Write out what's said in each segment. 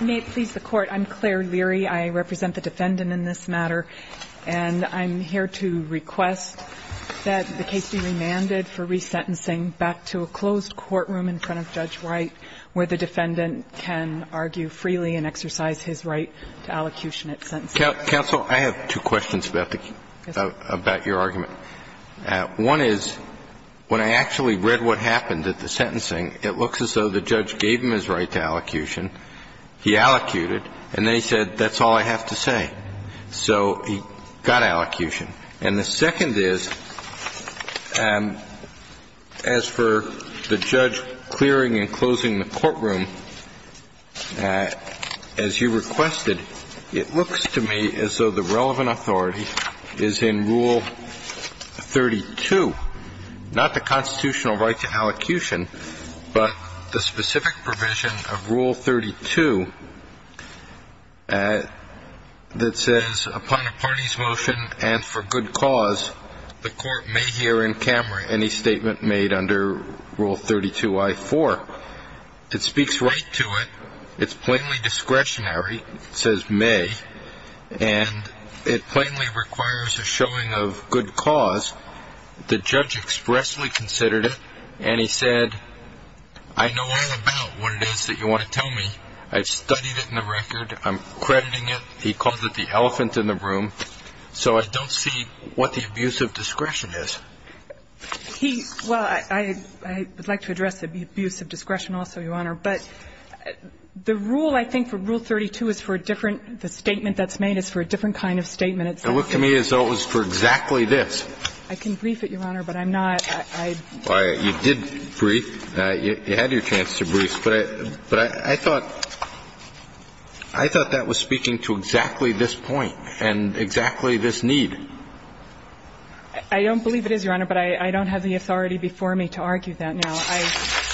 May it please the Court, I'm Claire Leary. I represent the defendant in this matter, and I'm here to request that the case be remanded for resentencing back to a closed courtroom in front of Judge Wright, where the defendant can argue freely and exercise his right to allocution at sentencing. Kennedy, counsel, I have two questions about your argument. One is, when I actually read what happened at the sentencing, it looks as though the judge gave him his right to allocution, he allocated, and then he said, that's all I have to say. So he got allocution. And the second is, as for the judge clearing and closing the courtroom, as you requested, it looks to me as though the relevant authority is in Rule 32, not the constitutional right to allocution, but the specific provision of Rule 32. That says, upon a party's motion and for good cause, the court may hear in camera any statement made under Rule 32I-4. It speaks right to it, it's plainly discretionary, it says may, and it plainly requires a showing of good cause. The judge expressly considered it, and he said, I know all about what it is that you want to tell me, I've studied it in the record, I'm crediting it, he calls it the elephant in the room, so I don't see what the abuse of discretion is. He, well, I would like to address the abuse of discretion also, Your Honor, but the rule I think for Rule 32 is for a different, the statement that's made is for a different kind of statement. In Rule 32, it says, and I'm not saying that it's for a different kind of statement, It's for a different kind of statement. And it looks to me as though it was for exactly this. I can brief it, Your Honor, but I'm not, I. You did brief. You had your chance to brief, but I thought, I thought that was speaking to exactly this point and exactly this need. I don't believe it is, Your Honor, but I don't have the authority before me to argue that now.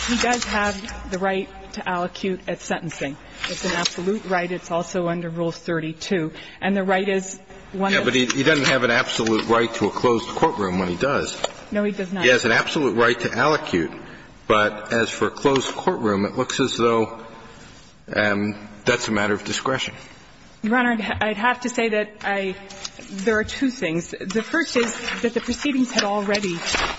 He does have the right to allocute at sentencing. It's an absolute right. It's also under Rule 32. And the right is one of the. Yeah, but he doesn't have an absolute right to a closed courtroom when he does. No, he does not. He has an absolute right to allocute, but as for a closed courtroom, it looks as though that's a matter of discretion. Your Honor, I'd have to say that I, there are two things. The first is that the proceedings had already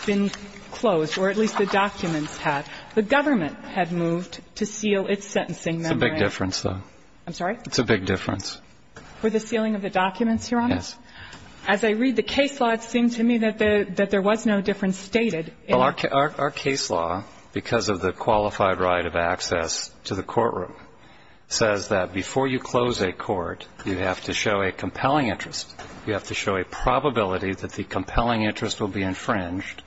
been closed, or at least the documents had. The government had moved to seal its sentencing memorandum. It's a big difference, though. I'm sorry? It's a big difference. For the sealing of the documents, Your Honor? Yes. As I read the case law, it seemed to me that the, that there was no difference stated in. Well, our case law, because of the qualified right of access to the courtroom, says that before you close a court, you have to show a compelling interest. You have to show a probability that the compelling interest will be infringed,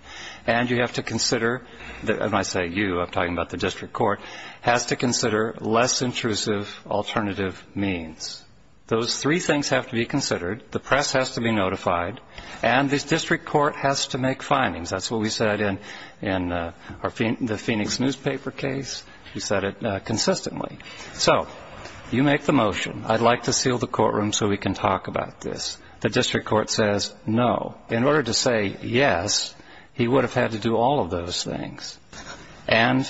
and you have to consider, and I say you, I'm talking about the district court, has to consider less intrusive alternative means. Those three things have to be considered. The press has to be notified, and the district court has to make findings. That's what we said in the Phoenix newspaper case. We said it consistently. So you make the motion, I'd like to seal the courtroom so we can talk about this. The district court says no. In order to say yes, he would have had to do all of those things. And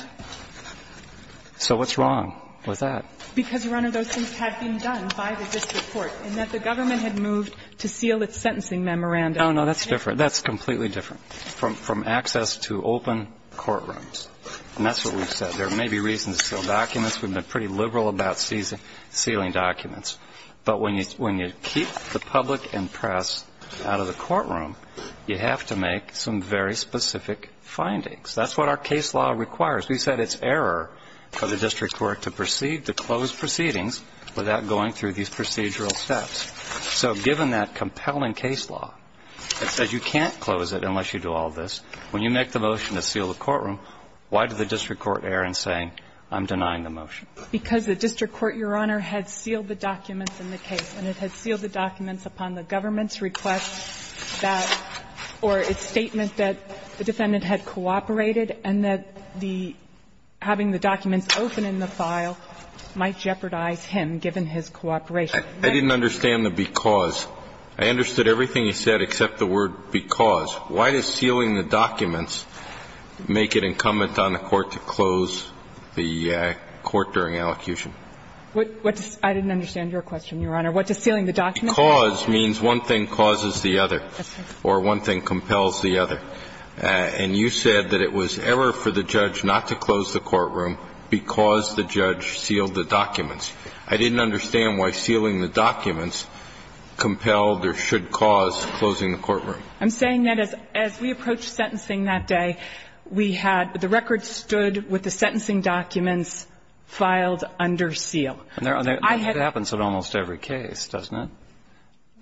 so what's wrong with that? Because, Your Honor, those things had been done by the district court, and that the government had moved to seal its sentencing memorandum. Oh, no, that's different. That's completely different from access to open courtrooms. And that's what we've said. There may be reasons to seal documents. We've been pretty liberal about sealing documents. But when you keep the public and press out of the courtroom, you have to make some very specific findings. That's what our case law requires. We said it's error for the district court to proceed to close proceedings without going through these procedural steps. So given that compelling case law that says you can't close it unless you do all this, when you make the motion to seal the courtroom, why did the district court not go through the procedure and say, I'm denying the motion? Because the district court, Your Honor, had sealed the documents in the case, and it had sealed the documents upon the government's request that or its statement that the defendant had cooperated and that the – having the documents open in the file might jeopardize him, given his cooperation. I didn't understand the because. I understood everything you said except the word because. Why does sealing the documents make it incumbent on the court to close the court during allocution? What does – I didn't understand your question, Your Honor. What does sealing the documents mean? Cause means one thing causes the other. That's right. Or one thing compels the other. And you said that it was error for the judge not to close the courtroom because the judge sealed the documents. I didn't understand why sealing the documents compelled or should cause closing the courtroom. I'm saying that as we approached sentencing that day, we had – the record stood with the sentencing documents filed under seal. I had – It happens in almost every case, doesn't it?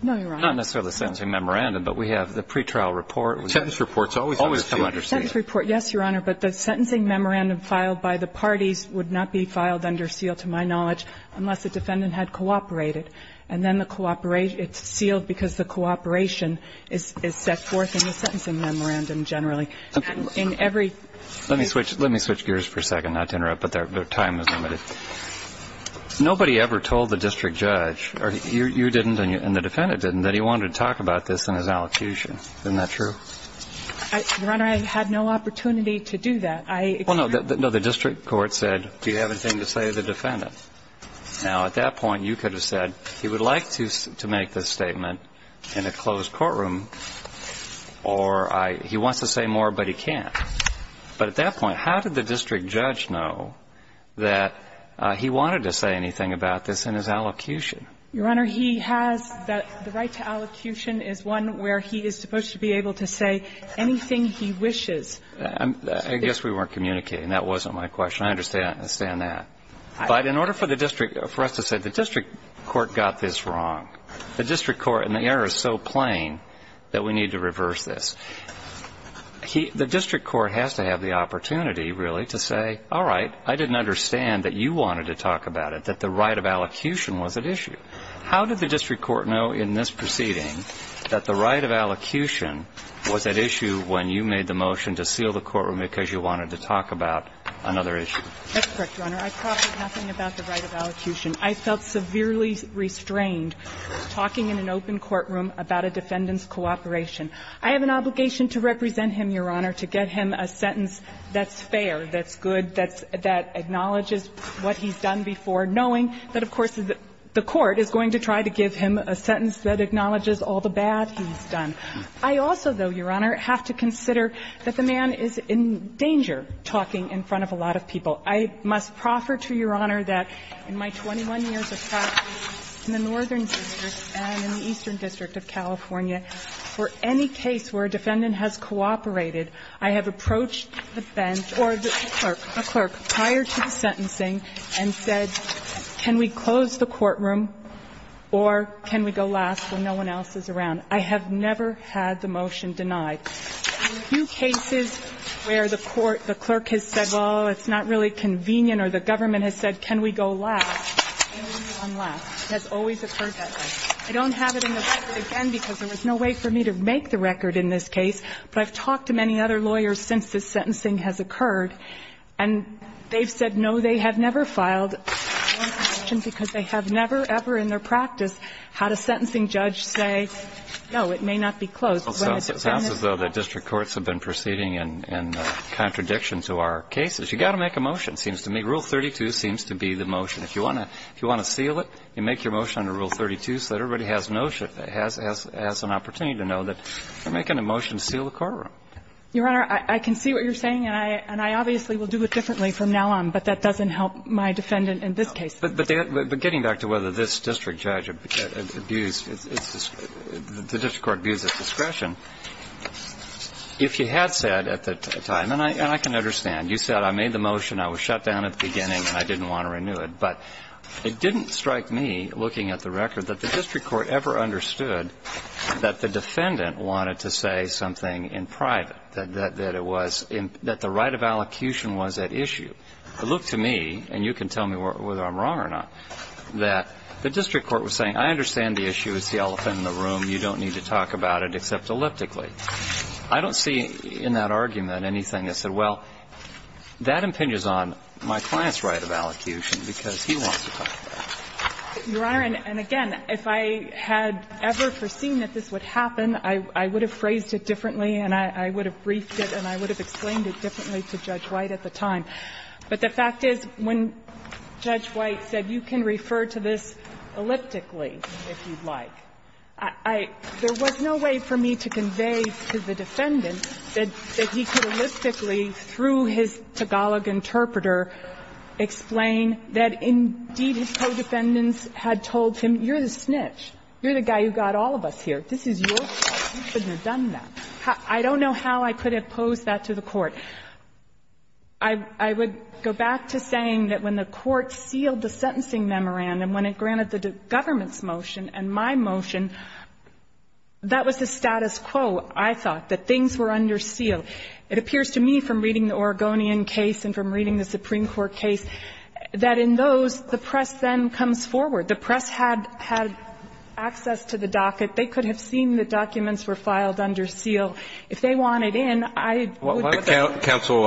No, Your Honor. Not necessarily the sentencing memorandum, but we have the pretrial report. Sentence reports always come under seal. Sentence report, yes, Your Honor, but the sentencing memorandum filed by the parties would not be filed under seal, to my knowledge, unless the defendant had cooperated. And then the – it's sealed because the cooperation is set forth in the sentencing memorandum generally. In every – Let me switch gears for a second, not to interrupt, but our time is limited. Nobody ever told the district judge – you didn't and the defendant didn't – that he wanted to talk about this in his allocution. Isn't that true? Your Honor, I had no opportunity to do that. I – Well, no. The district court said, do you have anything to say to the defendant? Now, at that point, you could have said, he would like to make this statement in a closed courtroom, or he wants to say more, but he can't. But at that point, how did the district judge know that he wanted to say anything about this in his allocution? Your Honor, he has the right to allocution is one where he is supposed to be able to say anything he wishes. I guess we weren't communicating. That wasn't my question. I understand that. But in order for the district – for us to say the district court got this wrong, the district court – and the error is so plain that we need to reverse this. The district court has to have the opportunity, really, to say, all right, I didn't understand that you wanted to talk about it, that the right of allocution was at issue. How did the district court know in this proceeding that the right of allocution was at issue when you made the motion to seal the courtroom because you wanted to talk about another issue? That's correct, Your Honor. I talked with nothing about the right of allocution. I felt severely restrained talking in an open courtroom about a defendant's cooperation. I have an obligation to represent him, Your Honor, to get him a sentence that's fair, that's good, that acknowledges what he's done before, knowing that, of course, the court is going to try to give him a sentence that acknowledges all the bad he's done. I also, though, Your Honor, have to consider that the man is in danger talking in front of a lot of people. I must proffer to Your Honor that in my 21 years of practice in the Northern District and in the Eastern District of California, for any case where a defendant has cooperated, I have approached the bench or the clerk, the clerk, prior to the sentencing and said, can we close the courtroom or can we go last when no one else is around? I have never had the motion denied. In a few cases where the court, the clerk has said, oh, it's not really convenient or the government has said, can we go last, can we go last, it has always occurred that way. I don't have it in the record again because there was no way for me to make the record in this case, but I've talked to many other lawyers since this sentencing has occurred and they've said, no, they have never filed a motion because they have never, ever in their practice had a sentencing judge say, no, it may not be closed. It sounds as though the district courts have been proceeding in contradiction to our cases. You've got to make a motion, seems to me. Rule 32 seems to be the motion. If you want to seal it, you make your motion under Rule 32 so that everybody has an opportunity to know that you're making a motion to seal the courtroom. Your Honor, I can see what you're saying, and I obviously will do it differently from now on, but that doesn't help my defendant in this case. But getting back to whether this district judge abused, the district court abused its discretion, if you had said at the time, and I can understand, you said I made the motion, I was shut down at the beginning, and I didn't want to renew it, but it didn't strike me, looking at the record, that the district court ever understood that the defendant wanted to say something in private, that it was, that the right of allocution was at issue. It looked to me, and you can tell me whether I'm wrong or not, that the district court was saying, I understand the issue, it's the elephant in the room, you don't need to talk about it except elliptically. I don't see in that argument anything that said, well, that impinges on my client's right of allocution because he wants to talk about it. Your Honor, and again, if I had ever foreseen that this would happen, I would have phrased it differently and I would have briefed it and I would have explained it differently to Judge White at the time. But the fact is, when Judge White said, you can refer to this elliptically if you'd like, I – there was no way for me to convey to the defendant that he could elliptically, through his Tagalog interpreter, explain that, indeed, his co-defendants had told him, you're the snitch, you're the guy who got all of us here, this is your fault, you shouldn't have done that. I don't know how I could have posed that to the Court. I would go back to saying that when the Court sealed the sentencing memorandum, when it granted the government's motion and my motion, that was the status quo, I thought, that things were under seal. It appears to me, from reading the Oregonian case and from reading the Supreme Court case, that in those, the press then comes forward. The press had access to the docket. They could have seen the documents were filed under seal. If they wanted in, I would have done that. Roberts. Counsel,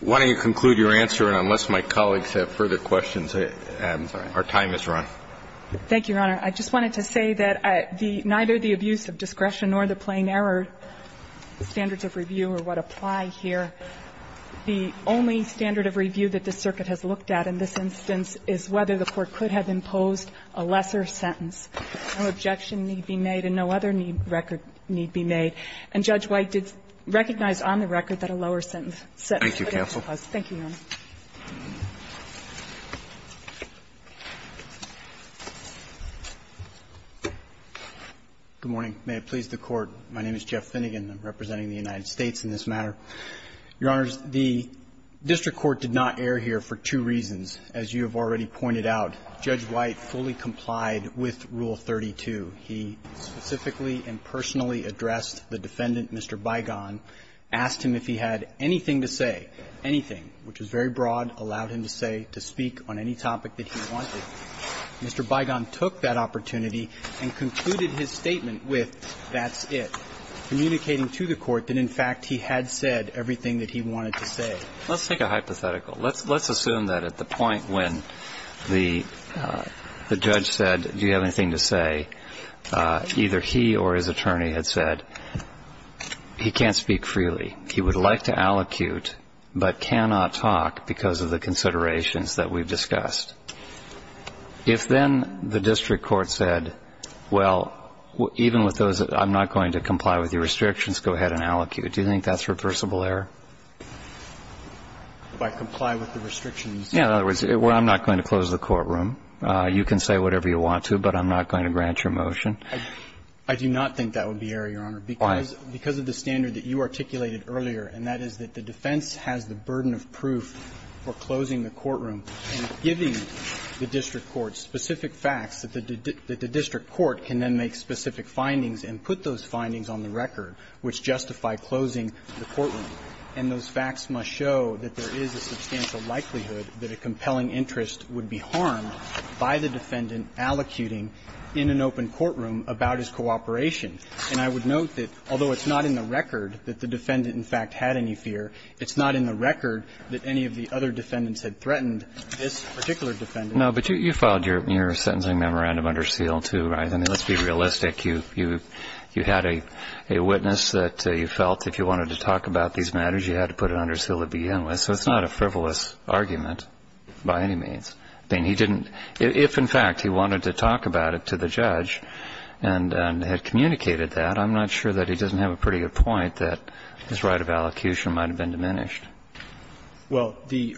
why don't you conclude your answer, and unless my colleagues have further questions, our time is run. Thank you, Your Honor. I just wanted to say that the – neither the abuse of discretion nor the plain-error standards of review are what apply here. The only standard of review that the circuit has looked at in this instance is whether the Court could have imposed a lesser sentence. No objection need be made, and no other record need be made. And Judge White did recognize on the record that a lower sentence was imposed. Thank you, Your Honor. Good morning. May it please the Court. My name is Jeff Finnegan. I'm representing the United States in this matter. Your Honors, the district court did not err here for two reasons. As you have already pointed out, Judge White fully complied with Rule 32. He specifically and personally addressed the defendant, Mr. Bygon, asked him if he had anything to say, anything, which was very broad, allowed him to say, to speak on any topic that he wanted. Mr. Bygon took that opportunity and concluded his statement with, that's it, communicating to the Court that, in fact, he had said everything that he wanted to say. Let's take a hypothetical. Let's assume that at the point when the judge said, do you have anything to say, either he or his attorney had said, he can't speak freely, he would like to allocute, but cannot talk because of the considerations that we've discussed. If then the district court said, well, even with those, I'm not going to comply with your restrictions, go ahead and allocute, do you think that's reversible error? If I comply with the restrictions. Yeah, in other words, well, I'm not going to close the courtroom. You can say whatever you want to, but I'm not going to grant your motion. I do not think that would be error, Your Honor, because of the standard that you articulated earlier, and that is that the defense has the burden of proof for closing the courtroom and giving the district court specific facts that the district court can then make specific findings and put those findings on the record, which justify closing the courtroom. And those facts must show that there is a substantial likelihood that a compelling interest would be harmed by the defendant allocuting in an open courtroom about his cooperation. And I would note that although it's not in the record that the defendant, in fact, had any fear, it's not in the record that any of the other defendants had threatened this particular defendant. No, but you filed your sentencing memorandum under seal, too, right? I mean, let's be realistic. You had a witness that you felt if you wanted to talk about these matters, you had to put it under seal to begin with, so it's not a frivolous argument by any means. I mean, he didn't – if, in fact, he wanted to talk about it to the judge and had communicated that, I'm not sure that he doesn't have a pretty good point that his right of allocution might have been diminished. Well, the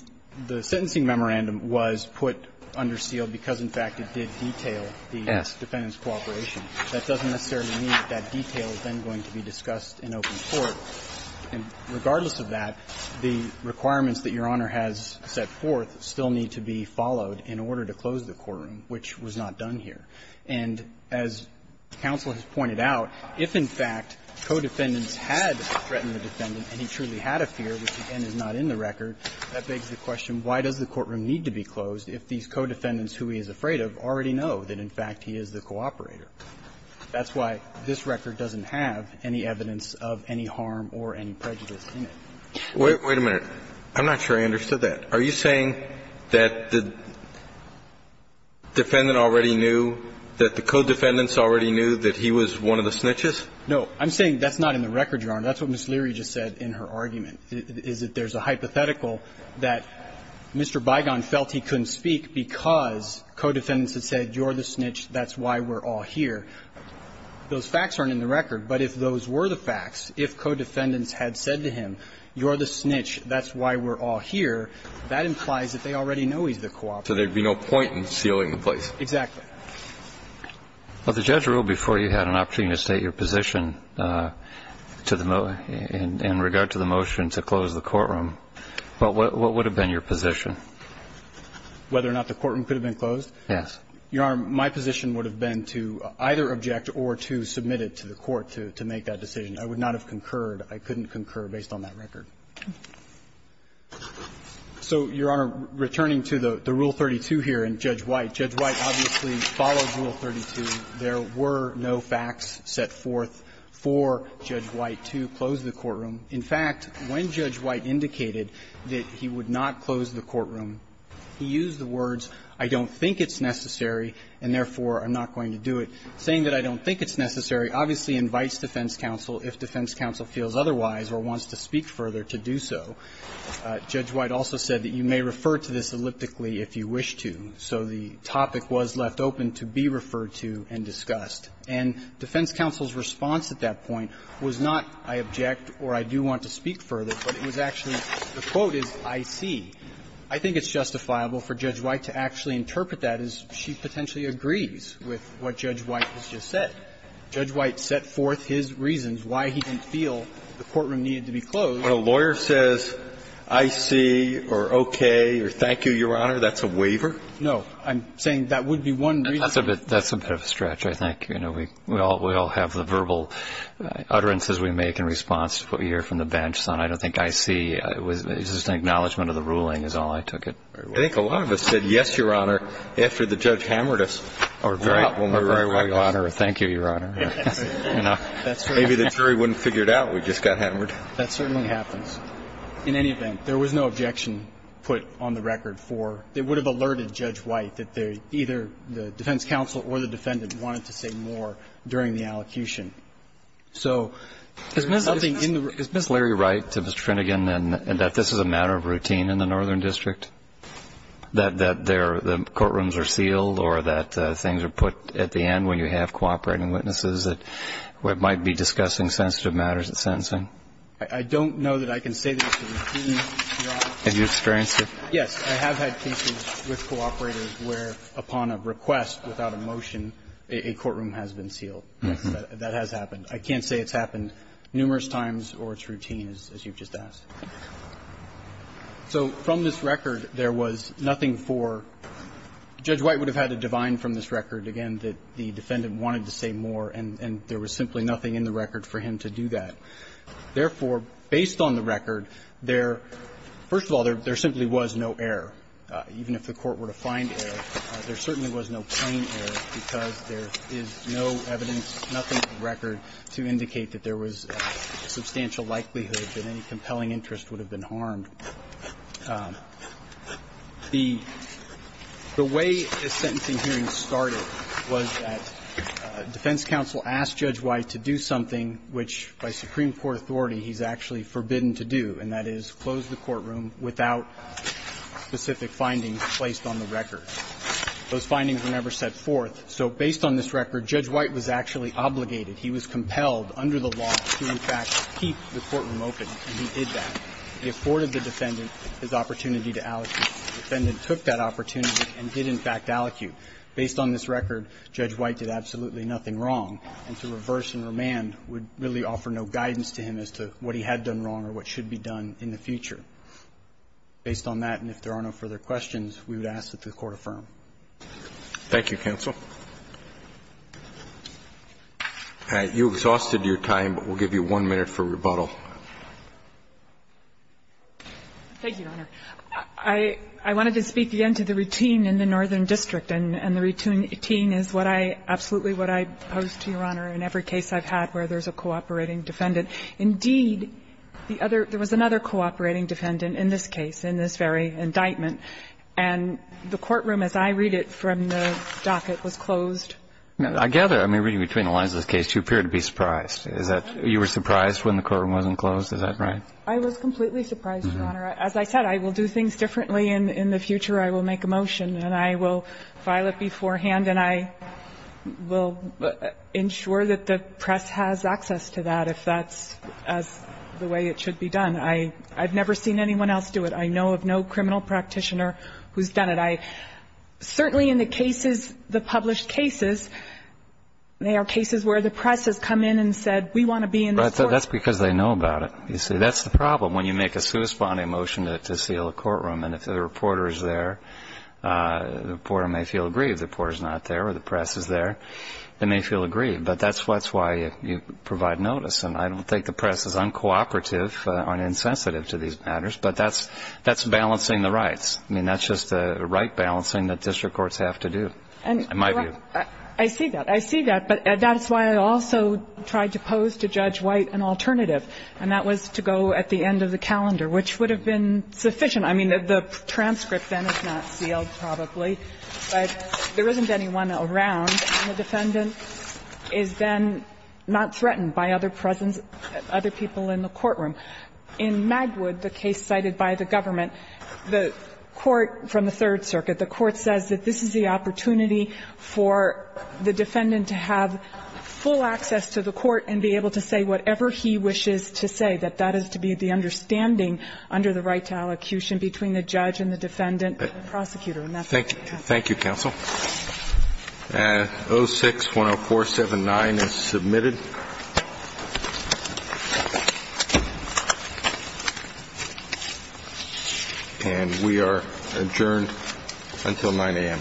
sentencing memorandum was put under seal because, in fact, it did detail the defendant's cooperation. That doesn't necessarily mean that that detail is then going to be discussed in open court. And regardless of that, the requirements that Your Honor has set forth still need to be followed in order to close the courtroom, which was not done here. And as counsel has pointed out, if, in fact, co-defendants had threatened the defendant and he truly had a fear, which, again, is not in the record, that begs the question, why does the courtroom need to be closed if these co-defendants who he is afraid of already know that, in fact, he is the cooperator? That's why this record doesn't have any evidence of any harm or any prejudice in it. Wait a minute. I'm not sure I understood that. Are you saying that the defendant already knew, that the co-defendants already knew that he was one of the snitches? No. I'm saying that's not in the record, Your Honor. That's what Ms. Leary just said in her argument, is that there's a hypothetical that Mr. Bigon felt he couldn't speak because co-defendants had said, you're the snitch, that's why we're all here. Those facts aren't in the record, but if those were the facts, if co-defendants had said to him, you're the snitch, that's why we're all here, that implies that they already know he's the cooperator. So there would be no point in sealing the place. Exactly. Well, the judge ruled before you had an opportunity to state your position to the motion to close the courtroom. What would have been your position? Whether or not the courtroom could have been closed? Yes. Your Honor, my position would have been to either object or to submit it to the court to make that decision. I would not have concurred. I couldn't concur based on that record. So, Your Honor, returning to the Rule 32 here in Judge White, Judge White obviously There were no facts set forth for Judge White to close the courtroom. In fact, when Judge White indicated that he would not close the courtroom, he used the words, I don't think it's necessary, and therefore I'm not going to do it. Saying that I don't think it's necessary obviously invites defense counsel, if defense counsel feels otherwise or wants to speak further to do so. Judge White also said that you may refer to this elliptically if you wish to. So the topic was left open to be referred to and discussed. And defense counsel's response at that point was not I object or I do want to speak further, but it was actually, the quote is, I see. I think it's justifiable for Judge White to actually interpret that as she potentially agrees with what Judge White has just said. Judge White set forth his reasons why he didn't feel the courtroom needed to be closed. When a lawyer says, I see, or okay, or thank you, Your Honor, that's a waiver? No. I'm saying that would be one reason. That's a bit of a stretch, I think. We all have the verbal utterances we make in response to what we hear from the bench. I don't think I see, it was just an acknowledgment of the ruling is all I took it. I think a lot of us said yes, Your Honor, after the judge hammered us. Or very well, Your Honor. Thank you, Your Honor. Maybe the jury wouldn't have figured out we just got hammered. That certainly happens. In any event, there was no objection put on the record for, they would have alerted Judge White that either the defense counsel or the defendant wanted to say more during the allocution. So there was nothing in the room. Is Ms. Larry right, to Mr. Trinigan, that this is a matter of routine in the Northern District, that the courtrooms are sealed or that things are put at the end when you have cooperating witnesses that might be discussing sensitive matters at sentencing? I don't know that I can say that it's a routine. Have you experienced it? Yes, I have had cases with cooperators where, upon a request without a motion, a courtroom has been sealed. That has happened. I can't say it's happened numerous times or it's routine, as you've just asked. So from this record, there was nothing for – Judge White would have had a divine from this record, again, that the defendant wanted to say more, and there was simply nothing in the record for him to do that. So, therefore, based on the record, there – first of all, there simply was no error. Even if the court were to find error, there certainly was no plain error, because there is no evidence, nothing from the record to indicate that there was a substantial likelihood that any compelling interest would have been harmed. The way a sentencing hearing started was that defense counsel asked Judge White to do something which, by Supreme Court authority, he's actually forbidden to do, and that is close the courtroom without specific findings placed on the record. Those findings were never set forth, so, based on this record, Judge White was actually obligated, he was compelled under the law to, in fact, keep the courtroom open, and he did that. He afforded the defendant his opportunity to allocute. The defendant took that opportunity and did, in fact, allocute. Based on this record, Judge White did absolutely nothing wrong, and to reverse and remand would really offer no guidance to him as to what he had done wrong or what should be done in the future. Based on that, and if there are no further questions, we would ask that the Court affirm. Roberts. Thank you, counsel. You've exhausted your time, but we'll give you one minute for rebuttal. Thank you, Your Honor. I wanted to speak again to the routine in the Northern District, and the routine is what I absolutely, what I pose to Your Honor in every case I've had where there's a cooperating defendant. Indeed, the other – there was another cooperating defendant in this case, in this very indictment, and the courtroom, as I read it from the docket, was closed. I gather, I mean, reading between the lines of this case, you appear to be surprised. Is that – you were surprised when the courtroom wasn't closed? Is that right? I was completely surprised, Your Honor. As I said, I will do things differently in the future. I will make a motion, and I will file it beforehand, and I will ensure that the press has access to that if that's the way it should be done. I've never seen anyone else do it. I know of no criminal practitioner who's done it. I – certainly in the cases, the published cases, there are cases where the press has come in and said, we want to be in this court. Right. That's because they know about it. You see, that's the problem when you make a suspending motion to seal a courtroom, and if the reporter is there, the reporter may feel aggrieved. The reporter's not there, or the press is there. They may feel aggrieved, but that's why you provide notice. And I don't think the press is uncooperative or insensitive to these matters, but that's balancing the rights. I mean, that's just the right balancing that district courts have to do, in my view. I see that. I see that, but that's why I also tried to pose to Judge White an alternative, and that was to go at the end of the calendar, which would have been sufficient. I mean, the transcript then is not sealed, probably, but there isn't anyone around, and the defendant is then not threatened by other presence, other people in the courtroom. In Magwood, the case cited by the government, the court from the Third Circuit, the court says that this is the opportunity for the defendant to have full access to the court and be able to say whatever he wishes to say, that that is to be the understanding under the right to allocution between the judge and the defendant and the prosecutor, and that's what we have. Thank you, counsel. 06-10479 is submitted. And we are adjourned until 9 a.m. and if not, please return to your seats. Thank you.